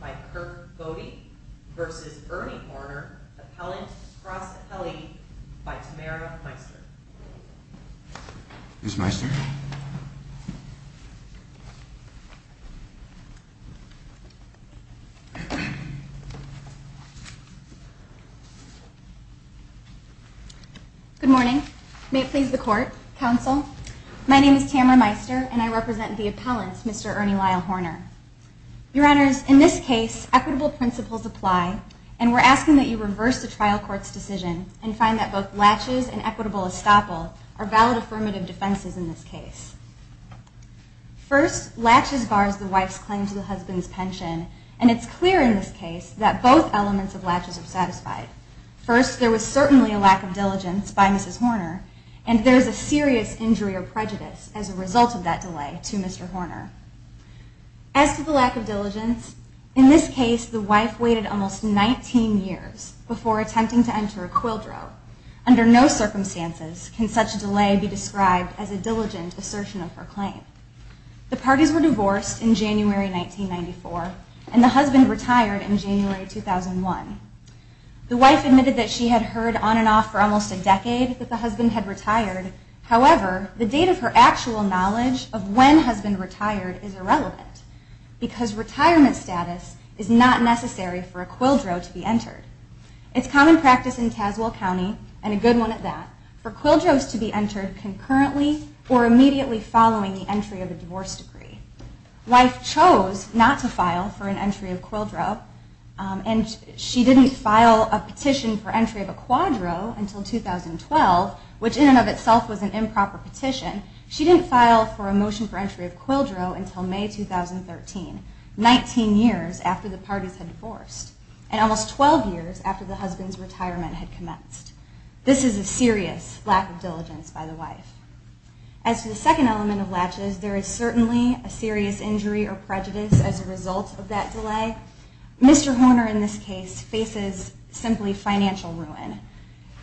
by Kurt Bode versus Ernie Horner, appellant cross appellee by Tamara Meister. Good morning. May it please the Court, Counsel. My name is Tamara Meister, and I represent the appellants, Mr. Ernie Lyle Horner. Your Honors, in this case, equitable principles apply, and we're asking that you reverse the trial court's decision and find that both are valid affirmative defenses in this case. First, laches bars the wife's claim to the husband's pension, and it's clear in this case that both elements of laches are satisfied. First, there was certainly a lack of diligence by Mrs. Horner, and there is a serious injury or prejudice as a result of that delay to Mr. Horner. As to the lack of diligence, in this case, the wife waited almost 19 years before attempting to enter a quildro. Under no circumstances can such a delay be described as a diligent assertion of her claim. The parties were divorced in January 1994, and the husband retired in January 2001. The wife admitted that she had heard on and off for almost a decade that the husband had retired. However, the date of her actual knowledge of when husband retired is irrelevant, because retirement status is not necessary for a quildro to be entered. It's common practice in Tazewell County, and a good one at that, for quildros to be entered concurrently or immediately following the entry of a divorce decree. The wife chose not to file for an entry of quildro, and she didn't file a petition for entry of a quadro until 2012, which in and of itself was an improper petition. She didn't file for a motion for entry of quildro until May 2013, 19 years after the parties had divorced, and almost 12 years after the husband's retirement had commenced. This is a serious lack of diligence by the wife. As to the second element of latches, there is certainly a serious injury or prejudice as a result of that delay. Mr. Horner in this case faces simply financial ruin.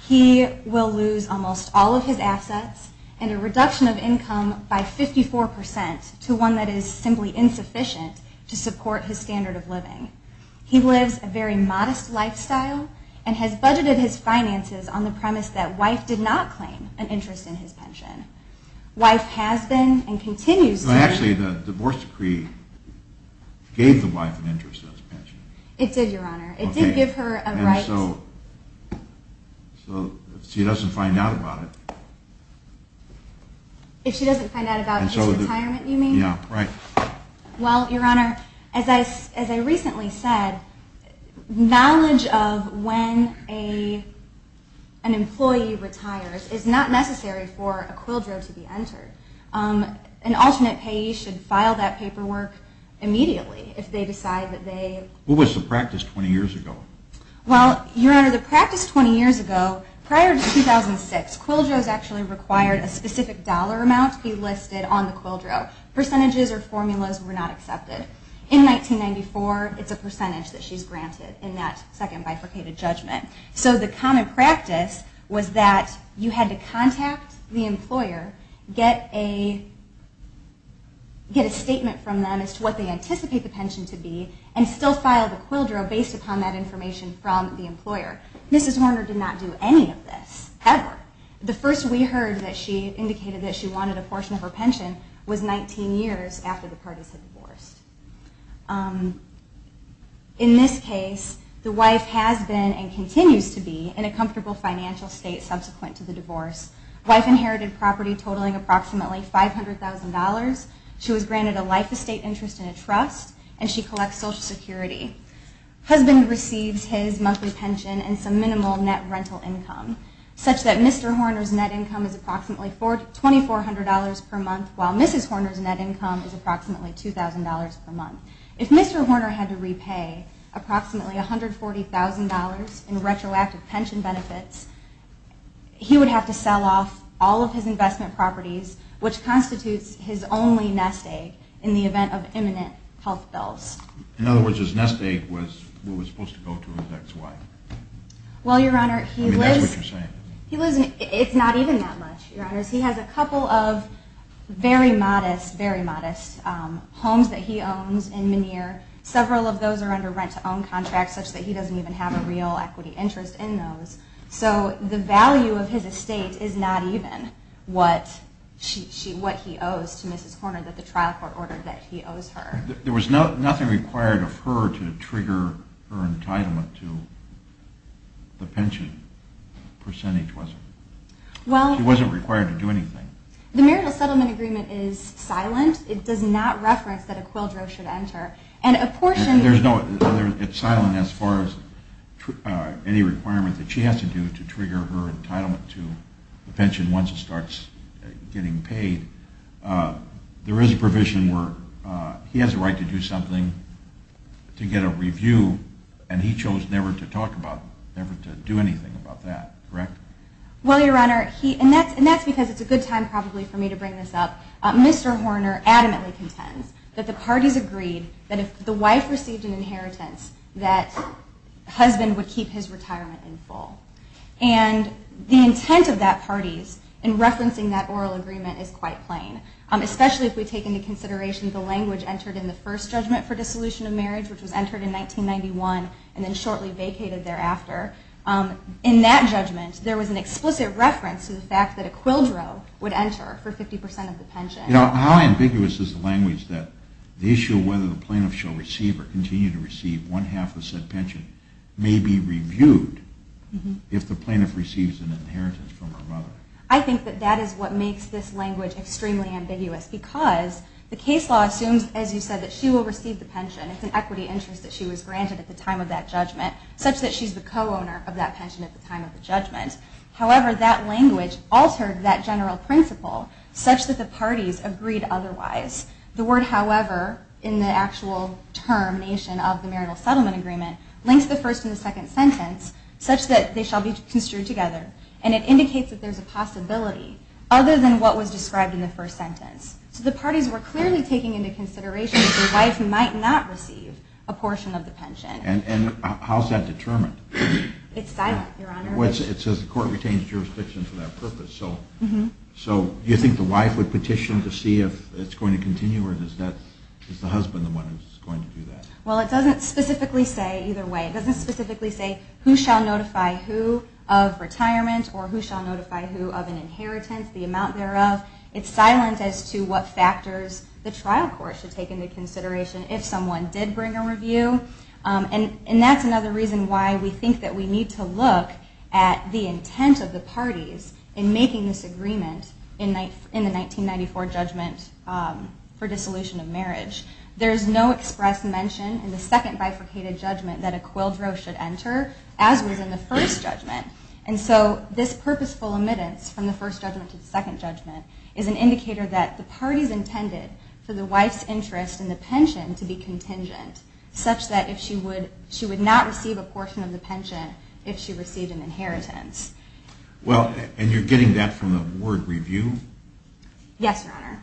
He will lose almost all of his assets, and a reduction of income by 54% to one that is simply insufficient to support his standard of living. He lives a very modest lifestyle, and has budgeted his finances on the premise that wife did not claim an interest in his pension. Wife has been and continues to... Actually, the divorce decree gave the wife an interest in his pension. It did, your honor. It did give her a right... And so, if she doesn't find out about it... If she doesn't find out about his retirement, you mean? Yeah, right. Well, your honor, as I recently said, knowledge of when an employee retires is not necessary for a quildro to be entered. An alternate payee should file that paperwork immediately if they decide that they... What was the practice 20 years ago? Well, your honor, the practice 20 years ago, prior to 2006, quildros actually required a specific dollar amount to be listed on the quildro. Percentages or formulas were not accepted. In 1994, it's a percentage that she's granted in that second bifurcated judgment. So the common practice was that you had to contact the employer, get a statement from them as to what they anticipate the pension to be, and still file the quildro based upon that information from the employer. Mrs. Horner did not do any of this, ever. The first we heard that she indicated that she wanted a portion of her pension was 19 years after the parties had divorced. In this case, the wife has been and continues to be in a comfortable financial state subsequent to the divorce. The wife inherited property totaling approximately $500,000. She was granted a life estate interest and a trust, and she collects Social Security. Husband receives his monthly pension and some minimal net rental income, such that Mr. Horner's net income is approximately $2,400 per month, while Mrs. Horner's net income is approximately $2,000 per month. If Mr. Horner had to repay approximately $140,000 in retroactive pension benefits, he would have to sell off all of his investment properties, which constitutes his only nest egg in the event of imminent health bills. In other words, his nest egg was what was supposed to go to his ex-wife. Well, Your Honor, he lives... I mean, that's what you're saying. It's not even that much, Your Honors. He has a couple of very modest, very modest homes that he owns in Menier. Several of those are under rent-to-own contracts, such that he doesn't even have a real equity interest in those. So the value of his estate is not even what he owes to Mrs. Horner that the trial court ordered that he owes her. There was nothing required of her to trigger her entitlement to the pension percentage, was there? Well... She wasn't required to do anything. The marital settlement agreement is silent. It does not reference that a quildro should enter. And a portion... There's no other... It's silent as far as any requirement that she has to do to trigger her entitlement to the pension once it starts getting paid. There is a provision where he has a right to do something to get a review, and he chose never to talk about, never to do anything about that, correct? Well, Your Honor, he... And that's because it's a good time probably for me to bring this up. Mr. Horner adamantly contends that the parties agreed that if the wife received an inheritance, that the husband would keep his retirement in full. And the intent of that party's in referencing that oral agreement is quite plain, especially if we take into account that in the first judgment for dissolution of marriage, which was entered in 1991 and then shortly vacated thereafter, in that judgment, there was an explicit reference to the fact that a quildro would enter for 50% of the pension. You know, how ambiguous is the language that the issue of whether the plaintiff shall receive or continue to receive one half of said pension may be reviewed if the plaintiff receives an inheritance from her mother? I think that that is what makes this language extremely ambiguous, because the case law assumes, as you said, that she will receive the pension. It's an equity interest that she was granted at the time of that judgment, such that she's the co-owner of that pension at the time of the judgment. However, that language altered that general principle such that the parties agreed otherwise. The word however, in the actual termination of the marital settlement agreement, links the first and the second sentence such that they shall be construed together. And it indicates that there's a possibility other than what was described in the first sentence. So the parties were clearly taking into consideration that the wife might not receive a portion of the pension. And how's that determined? It's silent, Your Honor. It says the court retains jurisdiction for that purpose. So you think the wife would petition to see if it's going to continue, or is the husband the one who's going to do that? Well, it doesn't specifically say either way. It doesn't specifically say who shall notify who of retirement, or who shall notify who of an inheritance, the amount thereof. It's to what factors the trial court should take into consideration if someone did bring a review. And that's another reason why we think that we need to look at the intent of the parties in making this agreement in the 1994 judgment for dissolution of marriage. There's no express mention in the second bifurcated judgment that a quildro should enter, as was in the first judgment. And so this purposeful omittance from the first judgment to the second judgment is an indicator that the parties intended for the wife's interest in the pension to be contingent, such that she would not receive a portion of the pension if she received an inheritance. Well, and you're getting that from the word review? Yes, Your Honor.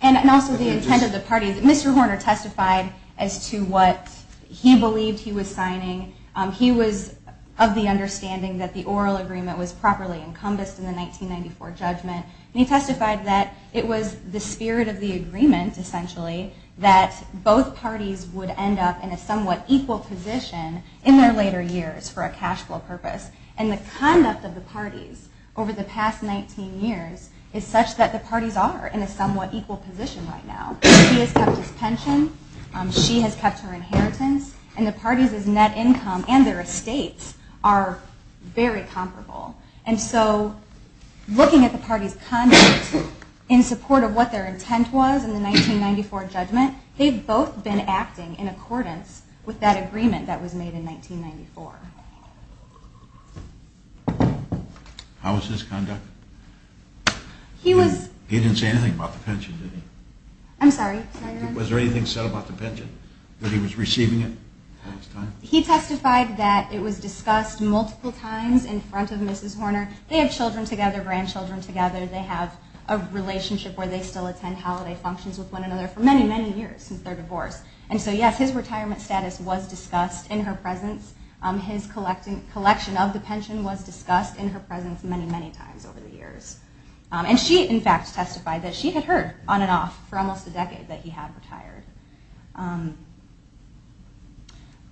And also the intent of the parties. Mr. Horner testified as to what he believed he was signing. He was of the understanding that the oral agreement was properly encompassed in the 1994 judgment. And he testified that it was the spirit of the agreement, essentially, that both parties would end up in a somewhat equal position in their later years for a cash flow purpose. And the conduct of the parties over the past 19 years is such that the parties are in a somewhat equal position right now. He has kept his pension. She has kept her inheritance. And the parties' net income and their estates are very comparable. And so looking at the parties' conduct in support of what their intent was in the 1994 judgment, they've both been acting in accordance with that agreement that was made in 1994. How was his conduct? He was... He didn't say anything about the pension, did he? I'm sorry? Was there anything said about the pension? That he was receiving it? He testified that it was discussed multiple times in front of Mrs. Horner. They have children together, grandchildren together. They have a relationship where they still attend holiday functions with one another for many, many years since their divorce. And so yes, his retirement status was discussed in her presence. His collection of the pension was discussed in her presence many, many times over the years. And she, in fact, testified that she had heard on and off for almost a decade that he had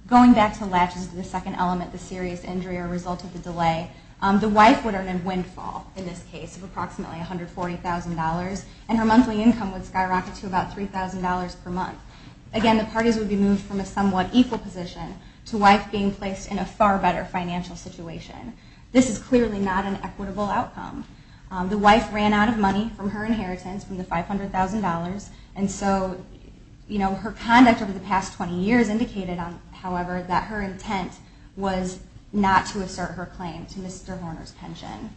Going back to latches to the second element, the serious injury or result of the delay, the wife would earn a windfall, in this case, of approximately $140,000, and her monthly income would skyrocket to about $3,000 per month. Again, the parties would be moved from a somewhat equal position to wife being placed in a far better financial situation. This is clearly not an equitable outcome. The wife ran out of money from her inheritance, from the $500,000, and so her conduct over the past 20 years indicated, however, that her intent was not to assert her claim to Mr. Horner's pension.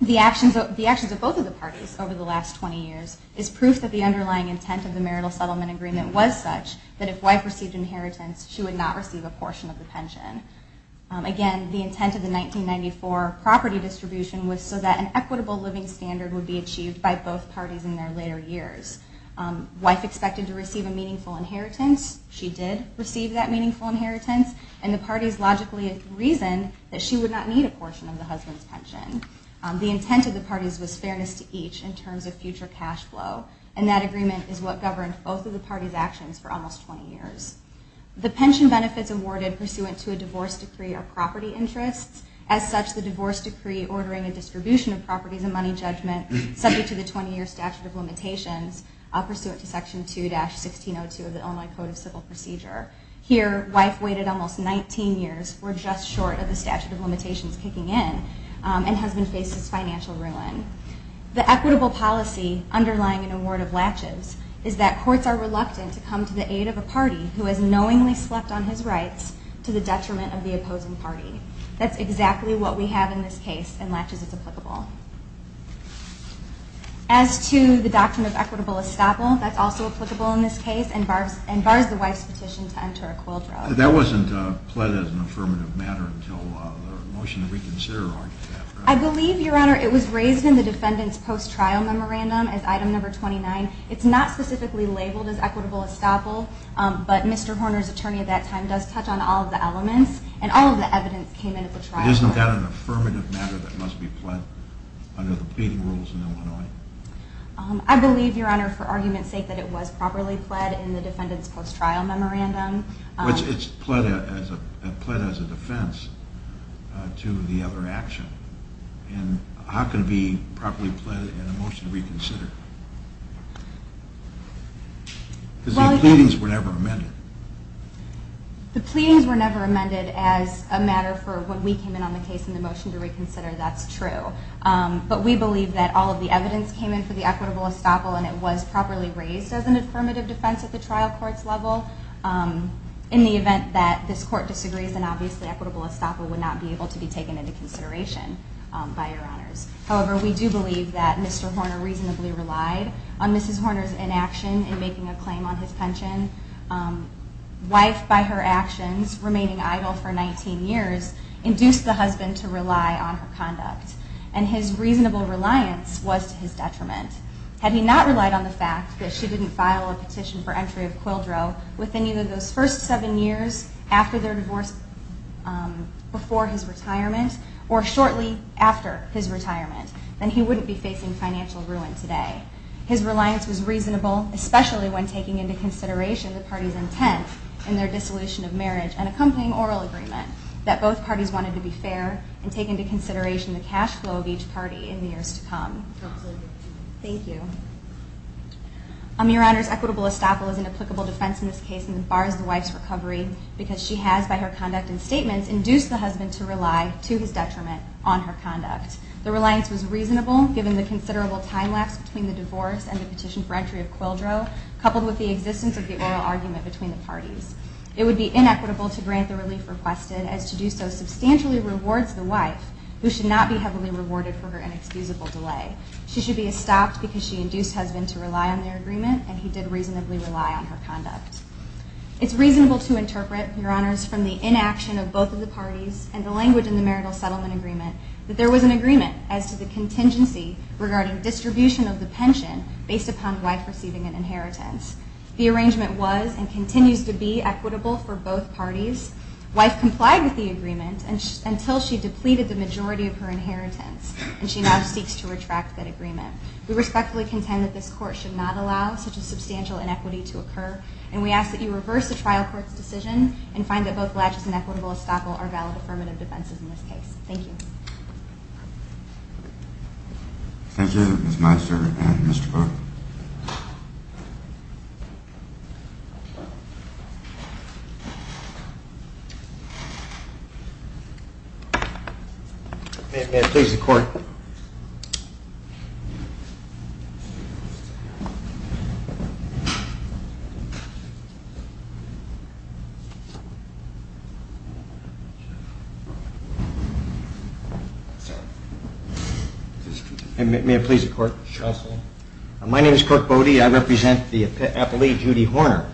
The actions of both of the parties over the last 20 years is proof that the underlying intent of the marital settlement agreement was such that if wife received inheritance, she would not receive a portion of the pension. Again, the intent of the 1994 property distribution was so that an equitable living standard would be achieved by both parties in their later years. Wife expected to receive a meaningful inheritance. She did receive that meaningful inheritance, and the parties logically reasoned that she would not need a portion of the husband's pension. The intent of the parties was fairness to each in terms of future cash flow, and that agreement is what governed both of the parties' actions for almost 20 years. The pension benefits awarded pursuant to a divorce decree are to be ordering a distribution of properties and money judgment subject to the 20-year statute of limitations pursuant to section 2-1602 of the Illinois Code of Civil Procedure. Here, wife waited almost 19 years for just short of the statute of limitations kicking in, and husband faces financial ruin. The equitable policy underlying an award of latches is that courts are reluctant to come to the aid of a party who has knowingly slept on his rights to the detriment of the opposing party. That's exactly what we have in this case, and latches is applicable. As to the doctrine of equitable estoppel, that's also applicable in this case, and bars the wife's petition to enter a coiled row. That wasn't pled as an affirmative matter until the motion that we consider argued after. I believe, Your Honor, it was raised in the defendant's post-trial memorandum as item number 29. It's not specifically labeled as equitable estoppel, but Mr. Horner's attorney at that time does touch on all of the elements, and all of the evidence came Isn't that an affirmative matter that must be pled under the pleading rules in Illinois? I believe, Your Honor, for argument's sake, that it was properly pled in the defendant's post-trial memorandum. But it's pled as a defense to the other action, and how can it be properly pled in a motion we consider? Because the pleadings were never amended. The pleadings were never amended as a matter for when we came in on the case in the motion to reconsider. That's true. But we believe that all of the evidence came in for the equitable estoppel, and it was properly raised as an affirmative defense at the trial court's level in the event that this court disagrees, and obviously equitable estoppel would not be able to be taken into consideration by Your Honors. However, we do believe that Mr. Horner reasonably relied on Mrs. Horner's inaction in making a claim on his pension. Wife, by her actions, remaining idle for 19 years, induced the husband to rely on her conduct, and his reasonable reliance was to his detriment. Had he not relied on the fact that she didn't file a petition for entry of Quildreau within either those first seven years after their divorce, before his retirement, or shortly after his retirement, then he wouldn't be facing financial ruin today. His reliance was reasonable, especially when taking into consideration the party's intent in their dissolution of marriage and accompanying oral agreement, that both parties wanted to be fair and take into consideration the cash flow of each party in the years to come. Thank you. Your Honors, equitable estoppel is an applicable defense in this case and bars the wife's recovery because she has, by her conduct and statements, induced the husband to rely, to his detriment, on her conduct. The reliance was reasonable given the considerable time lapse between the divorce and the petition for entry of Quildreau, coupled with the existence of the oral argument between the parties. It would be inequitable to grant the relief requested, as to do so substantially rewards the wife, who should not be heavily rewarded for her inexcusable delay. She should be estopped because she induced husband to rely on their agreement, and he did reasonably rely on her conduct. It's reasonable to interpret, Your Honors, from the inaction of both of the parties and the language in the marital settlement agreement, that there was an agreement as to the contingency regarding distribution of the pension based upon wife receiving an inheritance. The arrangement was and continues to be equitable for both parties. Wife complied with the agreement until she depleted the majority of her inheritance, and she now seeks to retract that agreement. We respectfully contend that this court should not allow such a substantial inequity to occur, and we ask that you reverse the trial court's decision and find that both legitimate and equitable estoppel are valid affirmative defenses in this case. Thank you. Thank you, Ms. Meister and Mr. Cook. May it please the court. My name is Kirk Bode. I represent the appellee Judy Horner.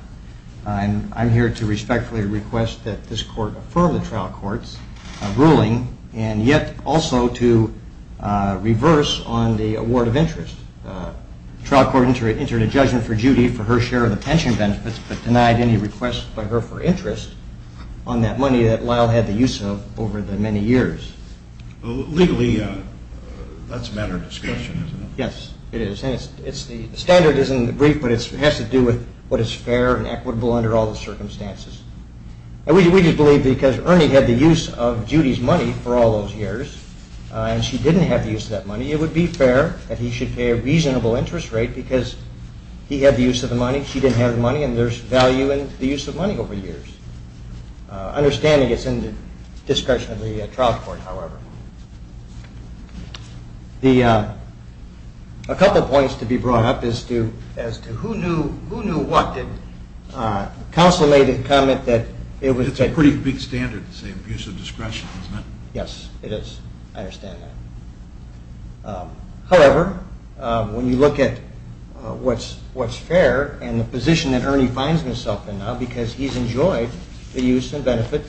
I'm here to respectfully request that this court affirm the trial court's ruling and yet also to reverse on the award of interest. and yet also to reverse on the award of interest. The trial court entered a judgment for Judy for her share of the pension benefits but denied any request by her for interest on that money that Lyle had the use of over the many years. Legally, that's a matter of discussion, isn't it? Yes, it is. The standard isn't brief, but it has to do with what is fair and equitable under all the circumstances. We just believe because Ernie had the use of Judy's money for all those years, and she didn't have the use of that money, it would be fair that he should pay a reasonable interest rate because he had the use of the money, she didn't have the money, and there's value in the use of money over the years. Understanding it's in the discretion of the trial court, however. A couple points to be brought up as to who knew what did. Counsel made the comment that it was... It's a pretty big standard to say abuse of discretion, isn't it? Yes, it is. I understand that. However, when you look at what's fair and the position that Ernie finds himself in now because he's enjoyed the use and benefit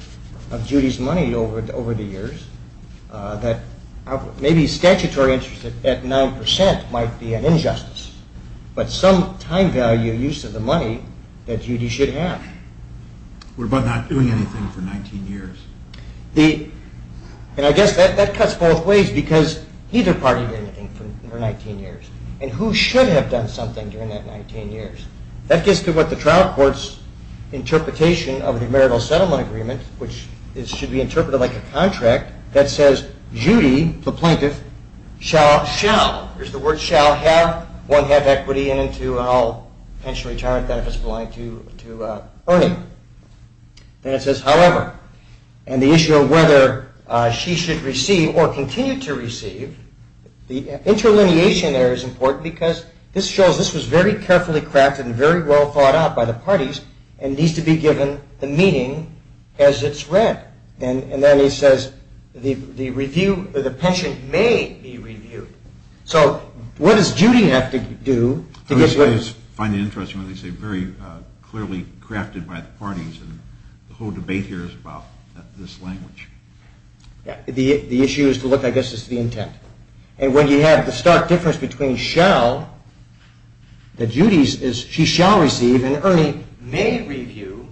of Judy's money over the years, that maybe statutory interest at 9% might be an injustice, but some time value use of the money that Judy should have. We're about not doing anything for 19 years. And I guess that cuts both ways because neither party did anything for 19 years, and who should have done something during that 19 years? That gets to what the trial court's interpretation of the marital settlement agreement, which should be interpreted like a contract that says Judy, the plaintiff, shall, there's the word shall have, won't have equity, and I'll pensionary charge that if it's belonging to Ernie. Then it says, however, and the issue of whether she should receive or continue to receive, the interlineation there is important because this shows this was very carefully crafted and very well thought out by the parties and needs to be given the meaning as it's read. And then he says the review, the pension may be reviewed. So what does Judy have to do to get... I always find it interesting when they say very clearly crafted by the parties and the whole debate here is about this language. The issue is to look, I guess, at the intent. And when you have the stark difference between shall, that Judy, she shall receive, and Ernie may review,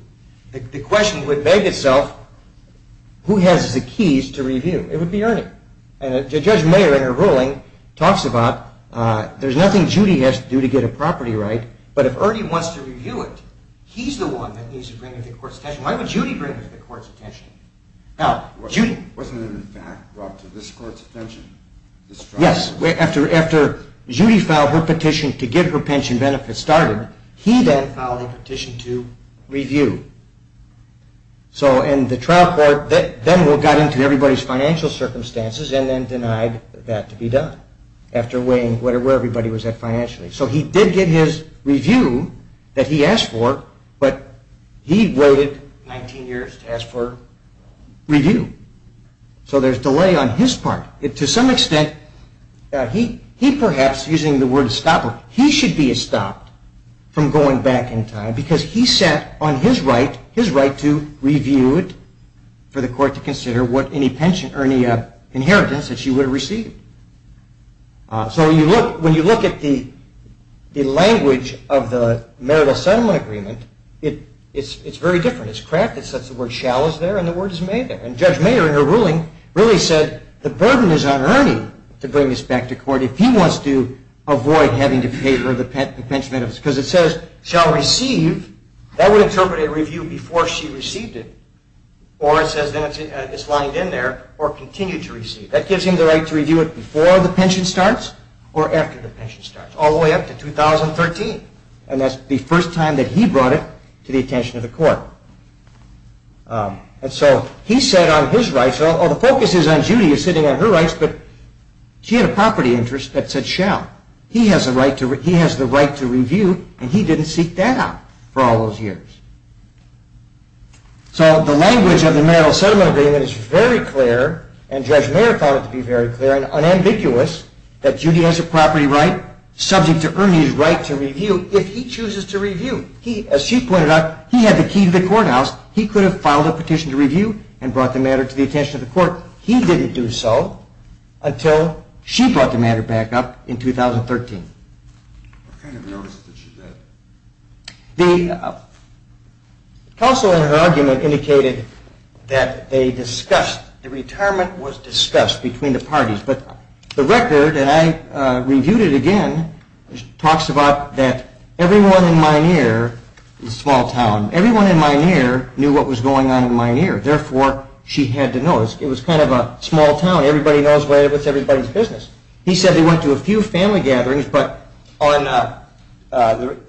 the question would beg itself, who has the keys to review? It would be Ernie. And Judge Mayer, in her ruling, talks about there's nothing Judy has to do to get a property right, but if Ernie wants to review it, he's the one that needs to bring it to the court's attention. Why would Judy bring it to the court's attention? Wasn't it in fact brought to this court's attention? Yes, after Judy filed her petition to get her pension benefits started, he then filed a petition to review. And the trial court then got into everybody's financial circumstances and then denied that to be done after weighing where everybody was at financially. So he did get his review that he asked for, but he waited 19 years to ask for review. So there's delay on his part. To some extent, he perhaps, using the word stopper, he should be stopped from going back in time because he set on his right, his right to review it for the court to consider what any pension, Ernie inheritance that she would have received. So when you look at the language of the marital settlement agreement, it's very different. It's cracked. It says the word shall is there and the word is may there. And Judge Mayer, in her ruling, really said the burden is on Ernie to bring this back to court. If he wants to avoid having to pay for the pension benefits because it says shall receive, that would interpret a review before she received it. Or it says then it's lined in there or continue to receive. That gives him the right to review it before the pension starts or after the pension starts, all the way up to 2013. And that's the first time that he brought it to the attention of the court. And so he set on his rights. The focus is on Judy sitting on her rights, but she had a property interest that said shall. He has the right to review, and he didn't seek that out for all those years. So the language of the marital settlement agreement is very clear, and Judge Mayer found it to be very clear and unambiguous that Judy has a property right subject to Ernie's right to review if he chooses to review. As she pointed out, he had the key to the courthouse. He could have filed a petition to review and brought the matter to the attention of the court. He didn't do so until she brought the matter back up in 2013. What kind of notice did she get? The counsel in her argument indicated that the retirement was discussed between the parties, but the record, and I reviewed it again, talks about that everyone in Minear, a small town, everyone in Minear knew what was going on in Minear. Therefore, she had to know. It was kind of a small town. Everybody knows what's everybody's business. He said they went to a few family gatherings, but on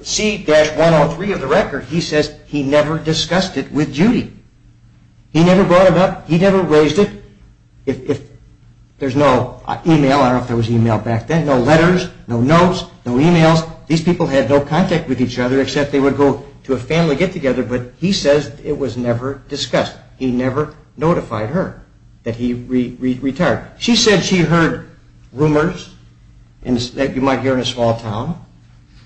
C-103 of the record, he says he never discussed it with Judy. He never brought it up. He never raised it. There's no e-mail. I don't know if there was e-mail back then. No letters, no notes, no e-mails. Because these people had no contact with each other except they would go to a family get-together, but he says it was never discussed. He never notified her that he retired. She said she heard rumors that you might hear in a small town.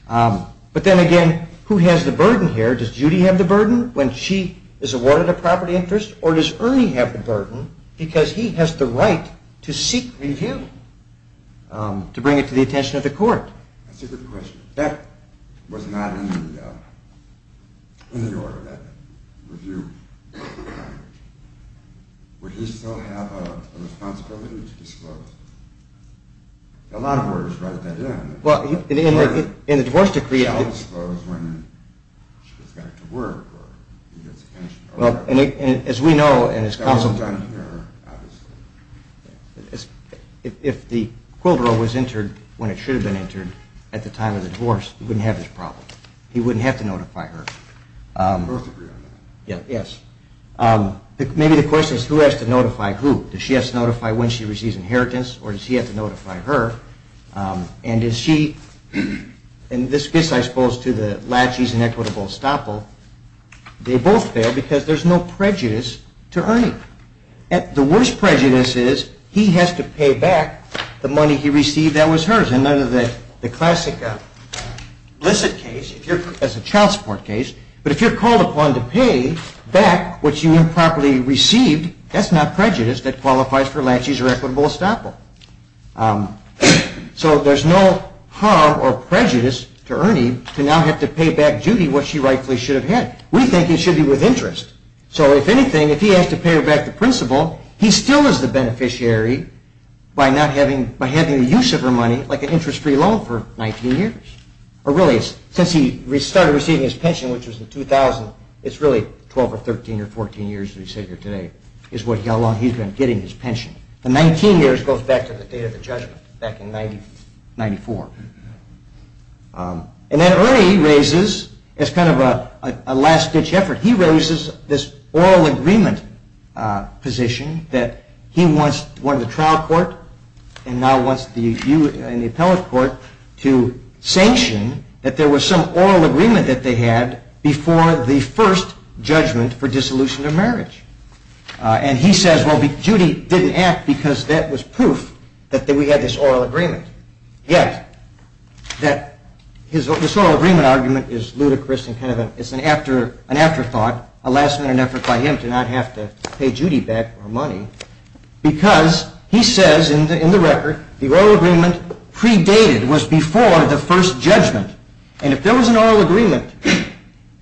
But then again, who has the burden here? Does Judy have the burden when she is awarded a property interest? Or does Ernie have the burden because he has the right to seek review to bring it to the attention of the court? That's a good question. That was not in the order, that review. Would he still have a responsibility to disclose? A lot of lawyers write that in. Well, in the divorce decree... He should disclose when she gets back to work or he gets attention. As we know... That wasn't done here, obviously. If the quilter was interred when it should have been interred at the time of the divorce, he wouldn't have this problem. He wouldn't have to notify her. Yes. Maybe the question is who has to notify who? Does she have to notify when she receives inheritance or does he have to notify her? And does she... And this gets, I suppose, to the latches and equitable estoppel. They both fail because there is no prejudice to Ernie. The worst prejudice is he has to pay back the money he received that was hers. In the classic Blissett case, as a child support case. But if you're called upon to pay back what you improperly received, that's not prejudice that qualifies for latches or equitable estoppel. So there's no harm or prejudice to Ernie to now have to pay back Judy what she rightfully should have had. We think it should be with interest. So if anything, if he has to pay her back the principal, he still is the beneficiary by having the use of her money like an interest-free loan for 19 years. Or really, since he started receiving his pension, which was in 2000, it's really 12 or 13 or 14 years as we sit here today is how long he's been getting his pension. The 19 years goes back to the date of the judgment back in 1994. And then Ernie raises, as kind of a last-ditch effort, he raises this oral agreement position that he once wanted the trial court and now wants you and the appellate court to sanction that there was some oral agreement that they had before the first judgment for dissolution of marriage. And he says, well, Judy didn't act because that was proof that we had this oral agreement. Yet this oral agreement argument is ludicrous and kind of an afterthought, a last-minute effort by him to not have to pay Judy back her money, because he says in the record the oral agreement predated, was before the first judgment. And if there was an oral agreement,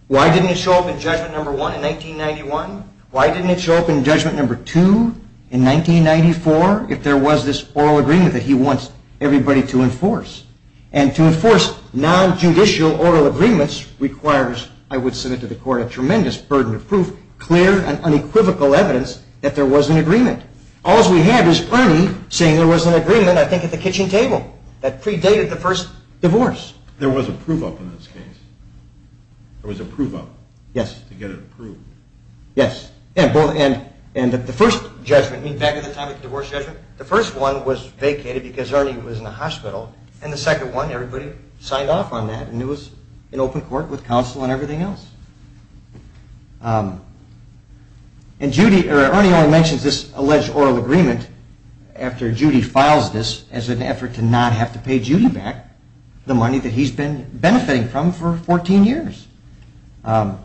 why didn't it show up in judgment number one in 1991? Why didn't it show up in judgment number two in 1994 if there was this oral agreement that he wants everybody to enforce? And to enforce non-judicial oral agreements requires, I would submit to the court, a tremendous burden of proof, clear and unequivocal evidence that there was an agreement. All's we have is Ernie saying there was an agreement, I think, at the kitchen table that predated the first divorce. There was a prove-up in this case. There was a prove-up. Yes. To get it approved. Yes. And the first judgment, back at the time of the divorce judgment, the first one was vacated because Ernie was in the hospital, and the second one, everybody signed off on that, and it was an open court with counsel and everything else. And Ernie only mentions this alleged oral agreement after Judy files this as an effort to not have to pay Judy back the money that he's been benefiting from for 14 years. So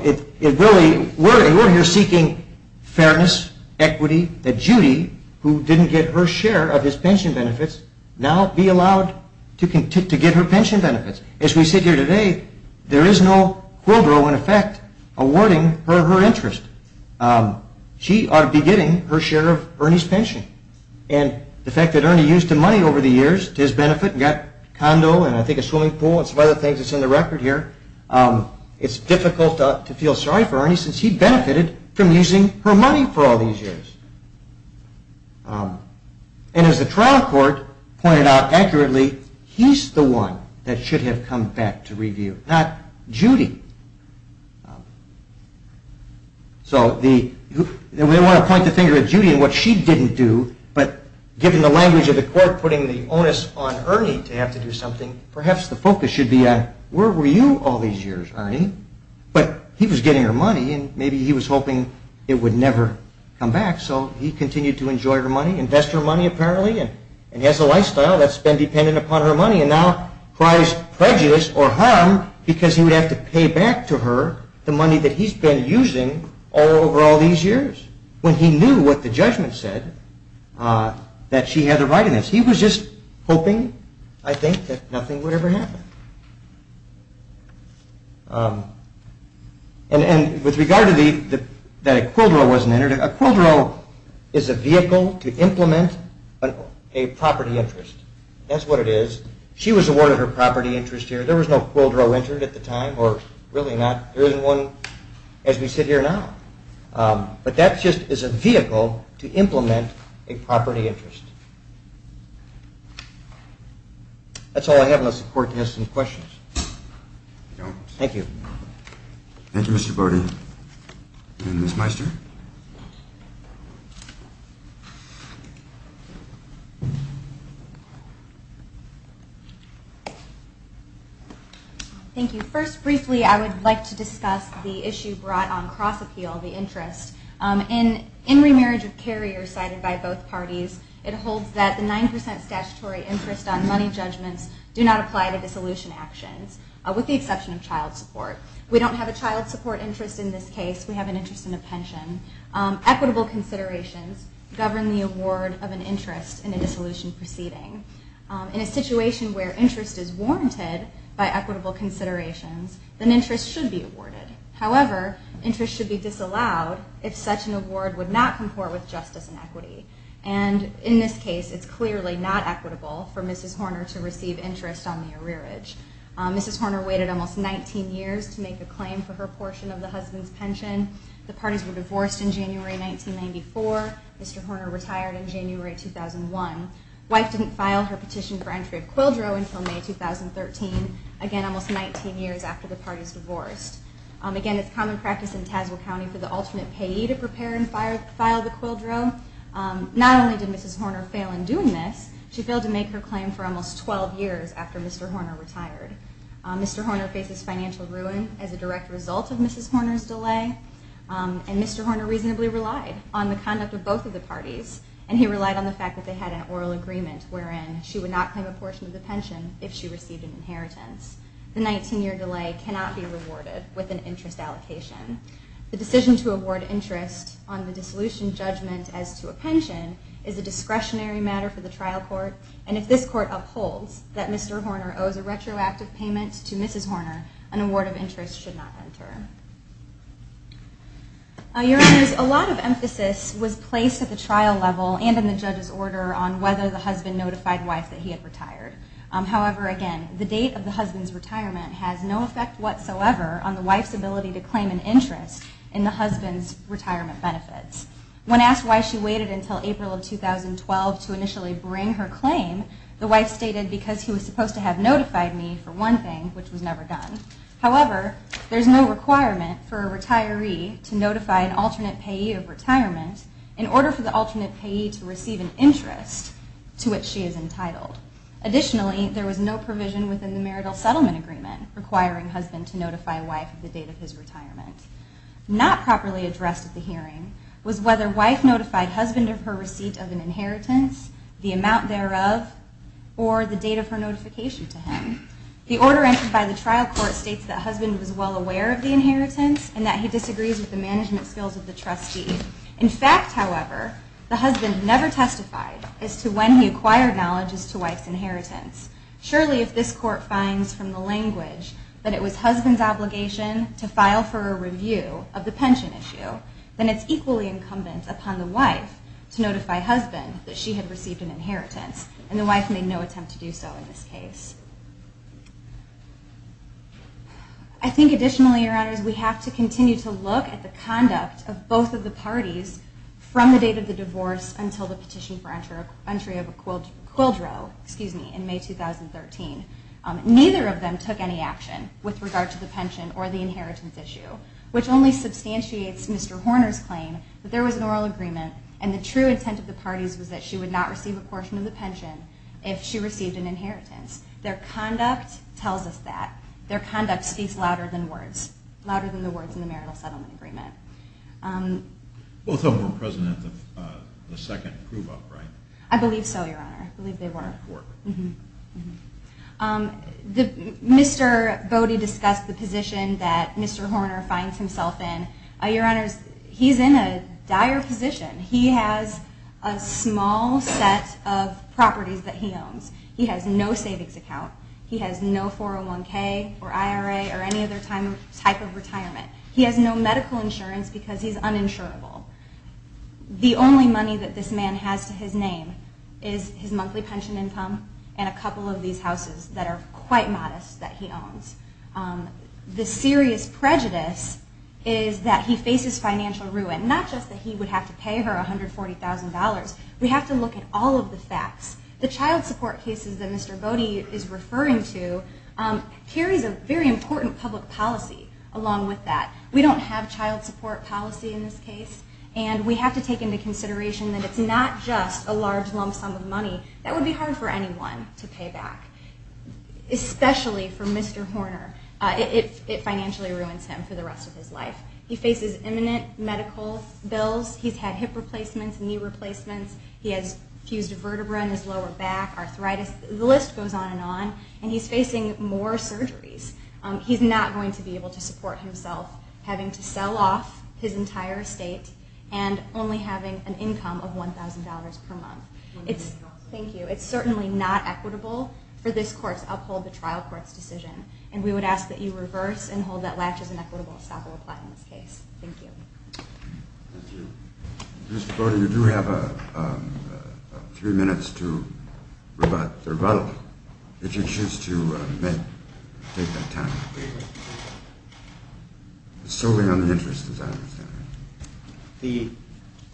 it really, we're here seeking fairness, equity, that Judy, who didn't get her share of his pension benefits, now be allowed to get her pension benefits. As we sit here today, there is no quid pro in effect awarding her her interest. She ought to be getting her share of Ernie's pension. And the fact that Ernie used the money over the years to his benefit and got a condo and I think a swimming pool and some other things that's in the record here, it's difficult to feel sorry for Ernie since he benefited from using her money for all these years. And as the trial court pointed out accurately, he's the one that should have come back to review, not Judy. So we want to point the finger at Judy and what she didn't do, but given the language of the court putting the onus on Ernie to have to do something, perhaps the focus should be on where were you all these years, Ernie? But he was getting her money and maybe he was hoping it would never come back, so he continued to enjoy her money, invest her money apparently, and he has a lifestyle that's been dependent upon her money and now cries prejudice or harm because he would have to pay back to her the money that he's been using all over all these years. When he knew what the judgment said, that she had a right in this, he was just hoping I think that nothing would ever happen. And with regard to that a quildro wasn't entered, a quildro is a vehicle to implement a property interest. That's what it is. She was awarded her property interest here. There was no quildro entered at the time or really not. There isn't one as we sit here now. But that just is a vehicle to implement a property interest. That's all I have unless the court has some questions. Thank you. Thank you, Mr. Borden. And Ms. Meister. Thank you. First briefly I would like to discuss the issue brought on cross appeal, the interest. In remarriage of carriers cited by both parties, it holds that the 9% statutory interest on money judgments do not apply to dissolution actions with the exception of child support. We don't have a child support interest in this case. We have an interest in a pension. Equitable considerations govern the award of an interest in a dissolution proceeding. In a situation where interest is warranted by equitable considerations, an interest should be awarded. However, interest should be disallowed if such an award would not comport with justice and equity. And in this case, it's clearly not equitable for Mrs. Horner to receive interest on the arrearage. Mrs. Horner waited almost 19 years to make a claim for her portion of the husband's pension. The parties were divorced in January 1994. Mr. Horner retired in January 2001. Wife didn't file her petition for entry of quildro until May 2013, again, almost 19 years after the parties divorced. Again, it's common practice in Tazewell County for the alternate payee to prepare and file the quildro. Not only did Mrs. Horner fail in doing this, she failed to make her claim for almost 12 years after Mr. Horner retired. Mr. Horner faces financial ruin as a direct result of Mrs. Horner's delay, and Mr. Horner reasonably relied on the conduct of both of the parties, and he relied on the fact that they had an oral agreement wherein she would not claim a portion of the pension if she received an inheritance. The 19-year delay cannot be rewarded with an interest allocation. The decision to award interest on the dissolution judgment as to a pension is a discretionary matter for the trial court, and if this court upholds that Mr. Horner owes a retroactive payment to Mrs. Horner, an award of interest should not enter. Your Honors, a lot of emphasis was placed at the trial level and in the judge's order on whether the husband notified wife that he had retired. However, again, the date of the husband's retirement has no effect whatsoever on the wife's ability to claim an interest in the husband's retirement benefits. When asked why she waited until April of 2012 to initially bring her claim, the wife stated, because he was supposed to have notified me for one thing, which was never done. However, there is no requirement for a retiree to notify an alternate payee of retirement in order for the alternate payee to receive an interest to which she is entitled. Additionally, there was no provision within the marital settlement agreement requiring husband to notify wife of the date of his retirement. Not properly addressed at the hearing was whether wife notified husband of her receipt of an inheritance, the amount thereof, or the date of her notification to him. The order entered by the trial court states that husband was well aware of the inheritance and that he disagrees with the management skills of the trustee. In fact, however, the husband never testified as to when he acquired knowledge as to wife's inheritance. Surely, if this court finds from the language that it was husband's obligation to file for a review of the pension issue, then it's equally incumbent upon the wife to notify husband that she had received an inheritance, and the wife made no attempt to do so in this case. I think additionally, Your Honors, we have to continue to look at the conduct of both of the parties from the date of the divorce until the petition for entry of a quildro in May 2013. Neither of them took any action with regard to the pension or the inheritance issue, which only substantiates Mr. Horner's claim that there was an oral agreement and the true intent of the parties was that she would not receive a portion of the pension if she received an inheritance. Their conduct tells us that. Their conduct speaks louder than words, louder than the words in the marital settlement agreement. Both of them were present at the second prove-up, right? I believe so, Your Honor. I believe they were. Mr. Bode discussed the position that Mr. Horner finds himself in. Your Honors, he's in a dire position. He has a small set of properties that he owns. He has no savings account. He has no 401K or IRA or any other type of retirement. He has no medical insurance because he's uninsurable. The only money that this man has to his name is his monthly pension income and a couple of these houses that are quite modest that he owns. The serious prejudice is that he faces financial ruin, not just that he would have to pay her $140,000. We have to look at all of the facts. The child support cases that Mr. Bode is referring to carries a very important public policy along with that. We don't have child support policy in this case, and we have to take into consideration that it's not just a large lump sum of money that would be hard for anyone to pay back, especially for Mr. Horner if it financially ruins him for the rest of his life. He faces imminent medical bills. He's had hip replacements, knee replacements. He has fused vertebrae in his lower back, arthritis. The list goes on and on, and he's facing more surgeries. He's not going to be able to support himself having to sell off his entire estate and only having an income of $1,000 per month. Thank you. It's certainly not equitable for this court to uphold the trial court's decision, and we would ask that you reverse and hold that latch as an equitable stop or reply in this case. Thank you. Thank you. Mr. Bode, you do have three minutes to rebut or vote if you choose to take that time. It's solely on the interest, as I understand it. The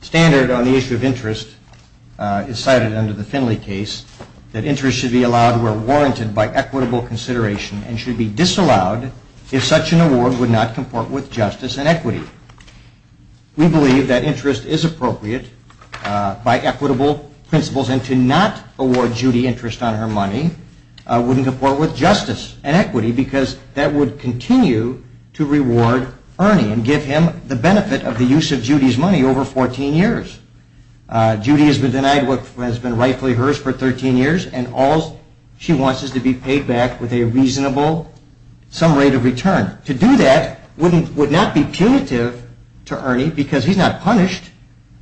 standard on the issue of interest is cited under the Finley case that interest should be allowed where warranted by equitable consideration and should be disallowed if such an award would not comport with justice and equity. We believe that interest is appropriate by equitable principles, and to not award Judy interest on her money wouldn't comport with justice and equity because that would continue to reward Ernie and give him the benefit of the use of Judy's money over 14 years. Judy has been denied what has been rightfully hers for 13 years, and all she wants is to be paid back with a reasonable sum rate of return. To do that would not be punitive to Ernie because he's not punished,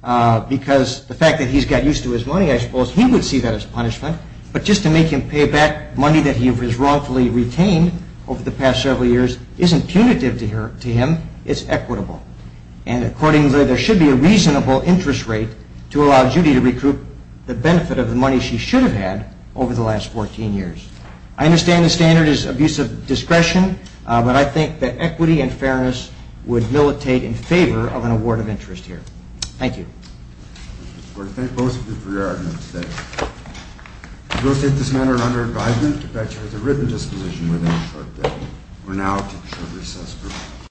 because the fact that he's got used to his money, I suppose, he would see that as punishment, but just to make him pay back money that he has wrongfully retained over the past several years isn't punitive to him, it's equitable. And accordingly, there should be a reasonable interest rate to allow Judy to recoup the benefit of the money she should have had over the last 14 years. I understand the standard is abuse of discretion, but I think that equity and fairness would militate in favor of an award of interest here. Thank you. Thank you, Mr. Porter. Thank both of you for your arguments today. We will take this matter under advisement, but I charge a written disposition within a short period. We're now at a short recess.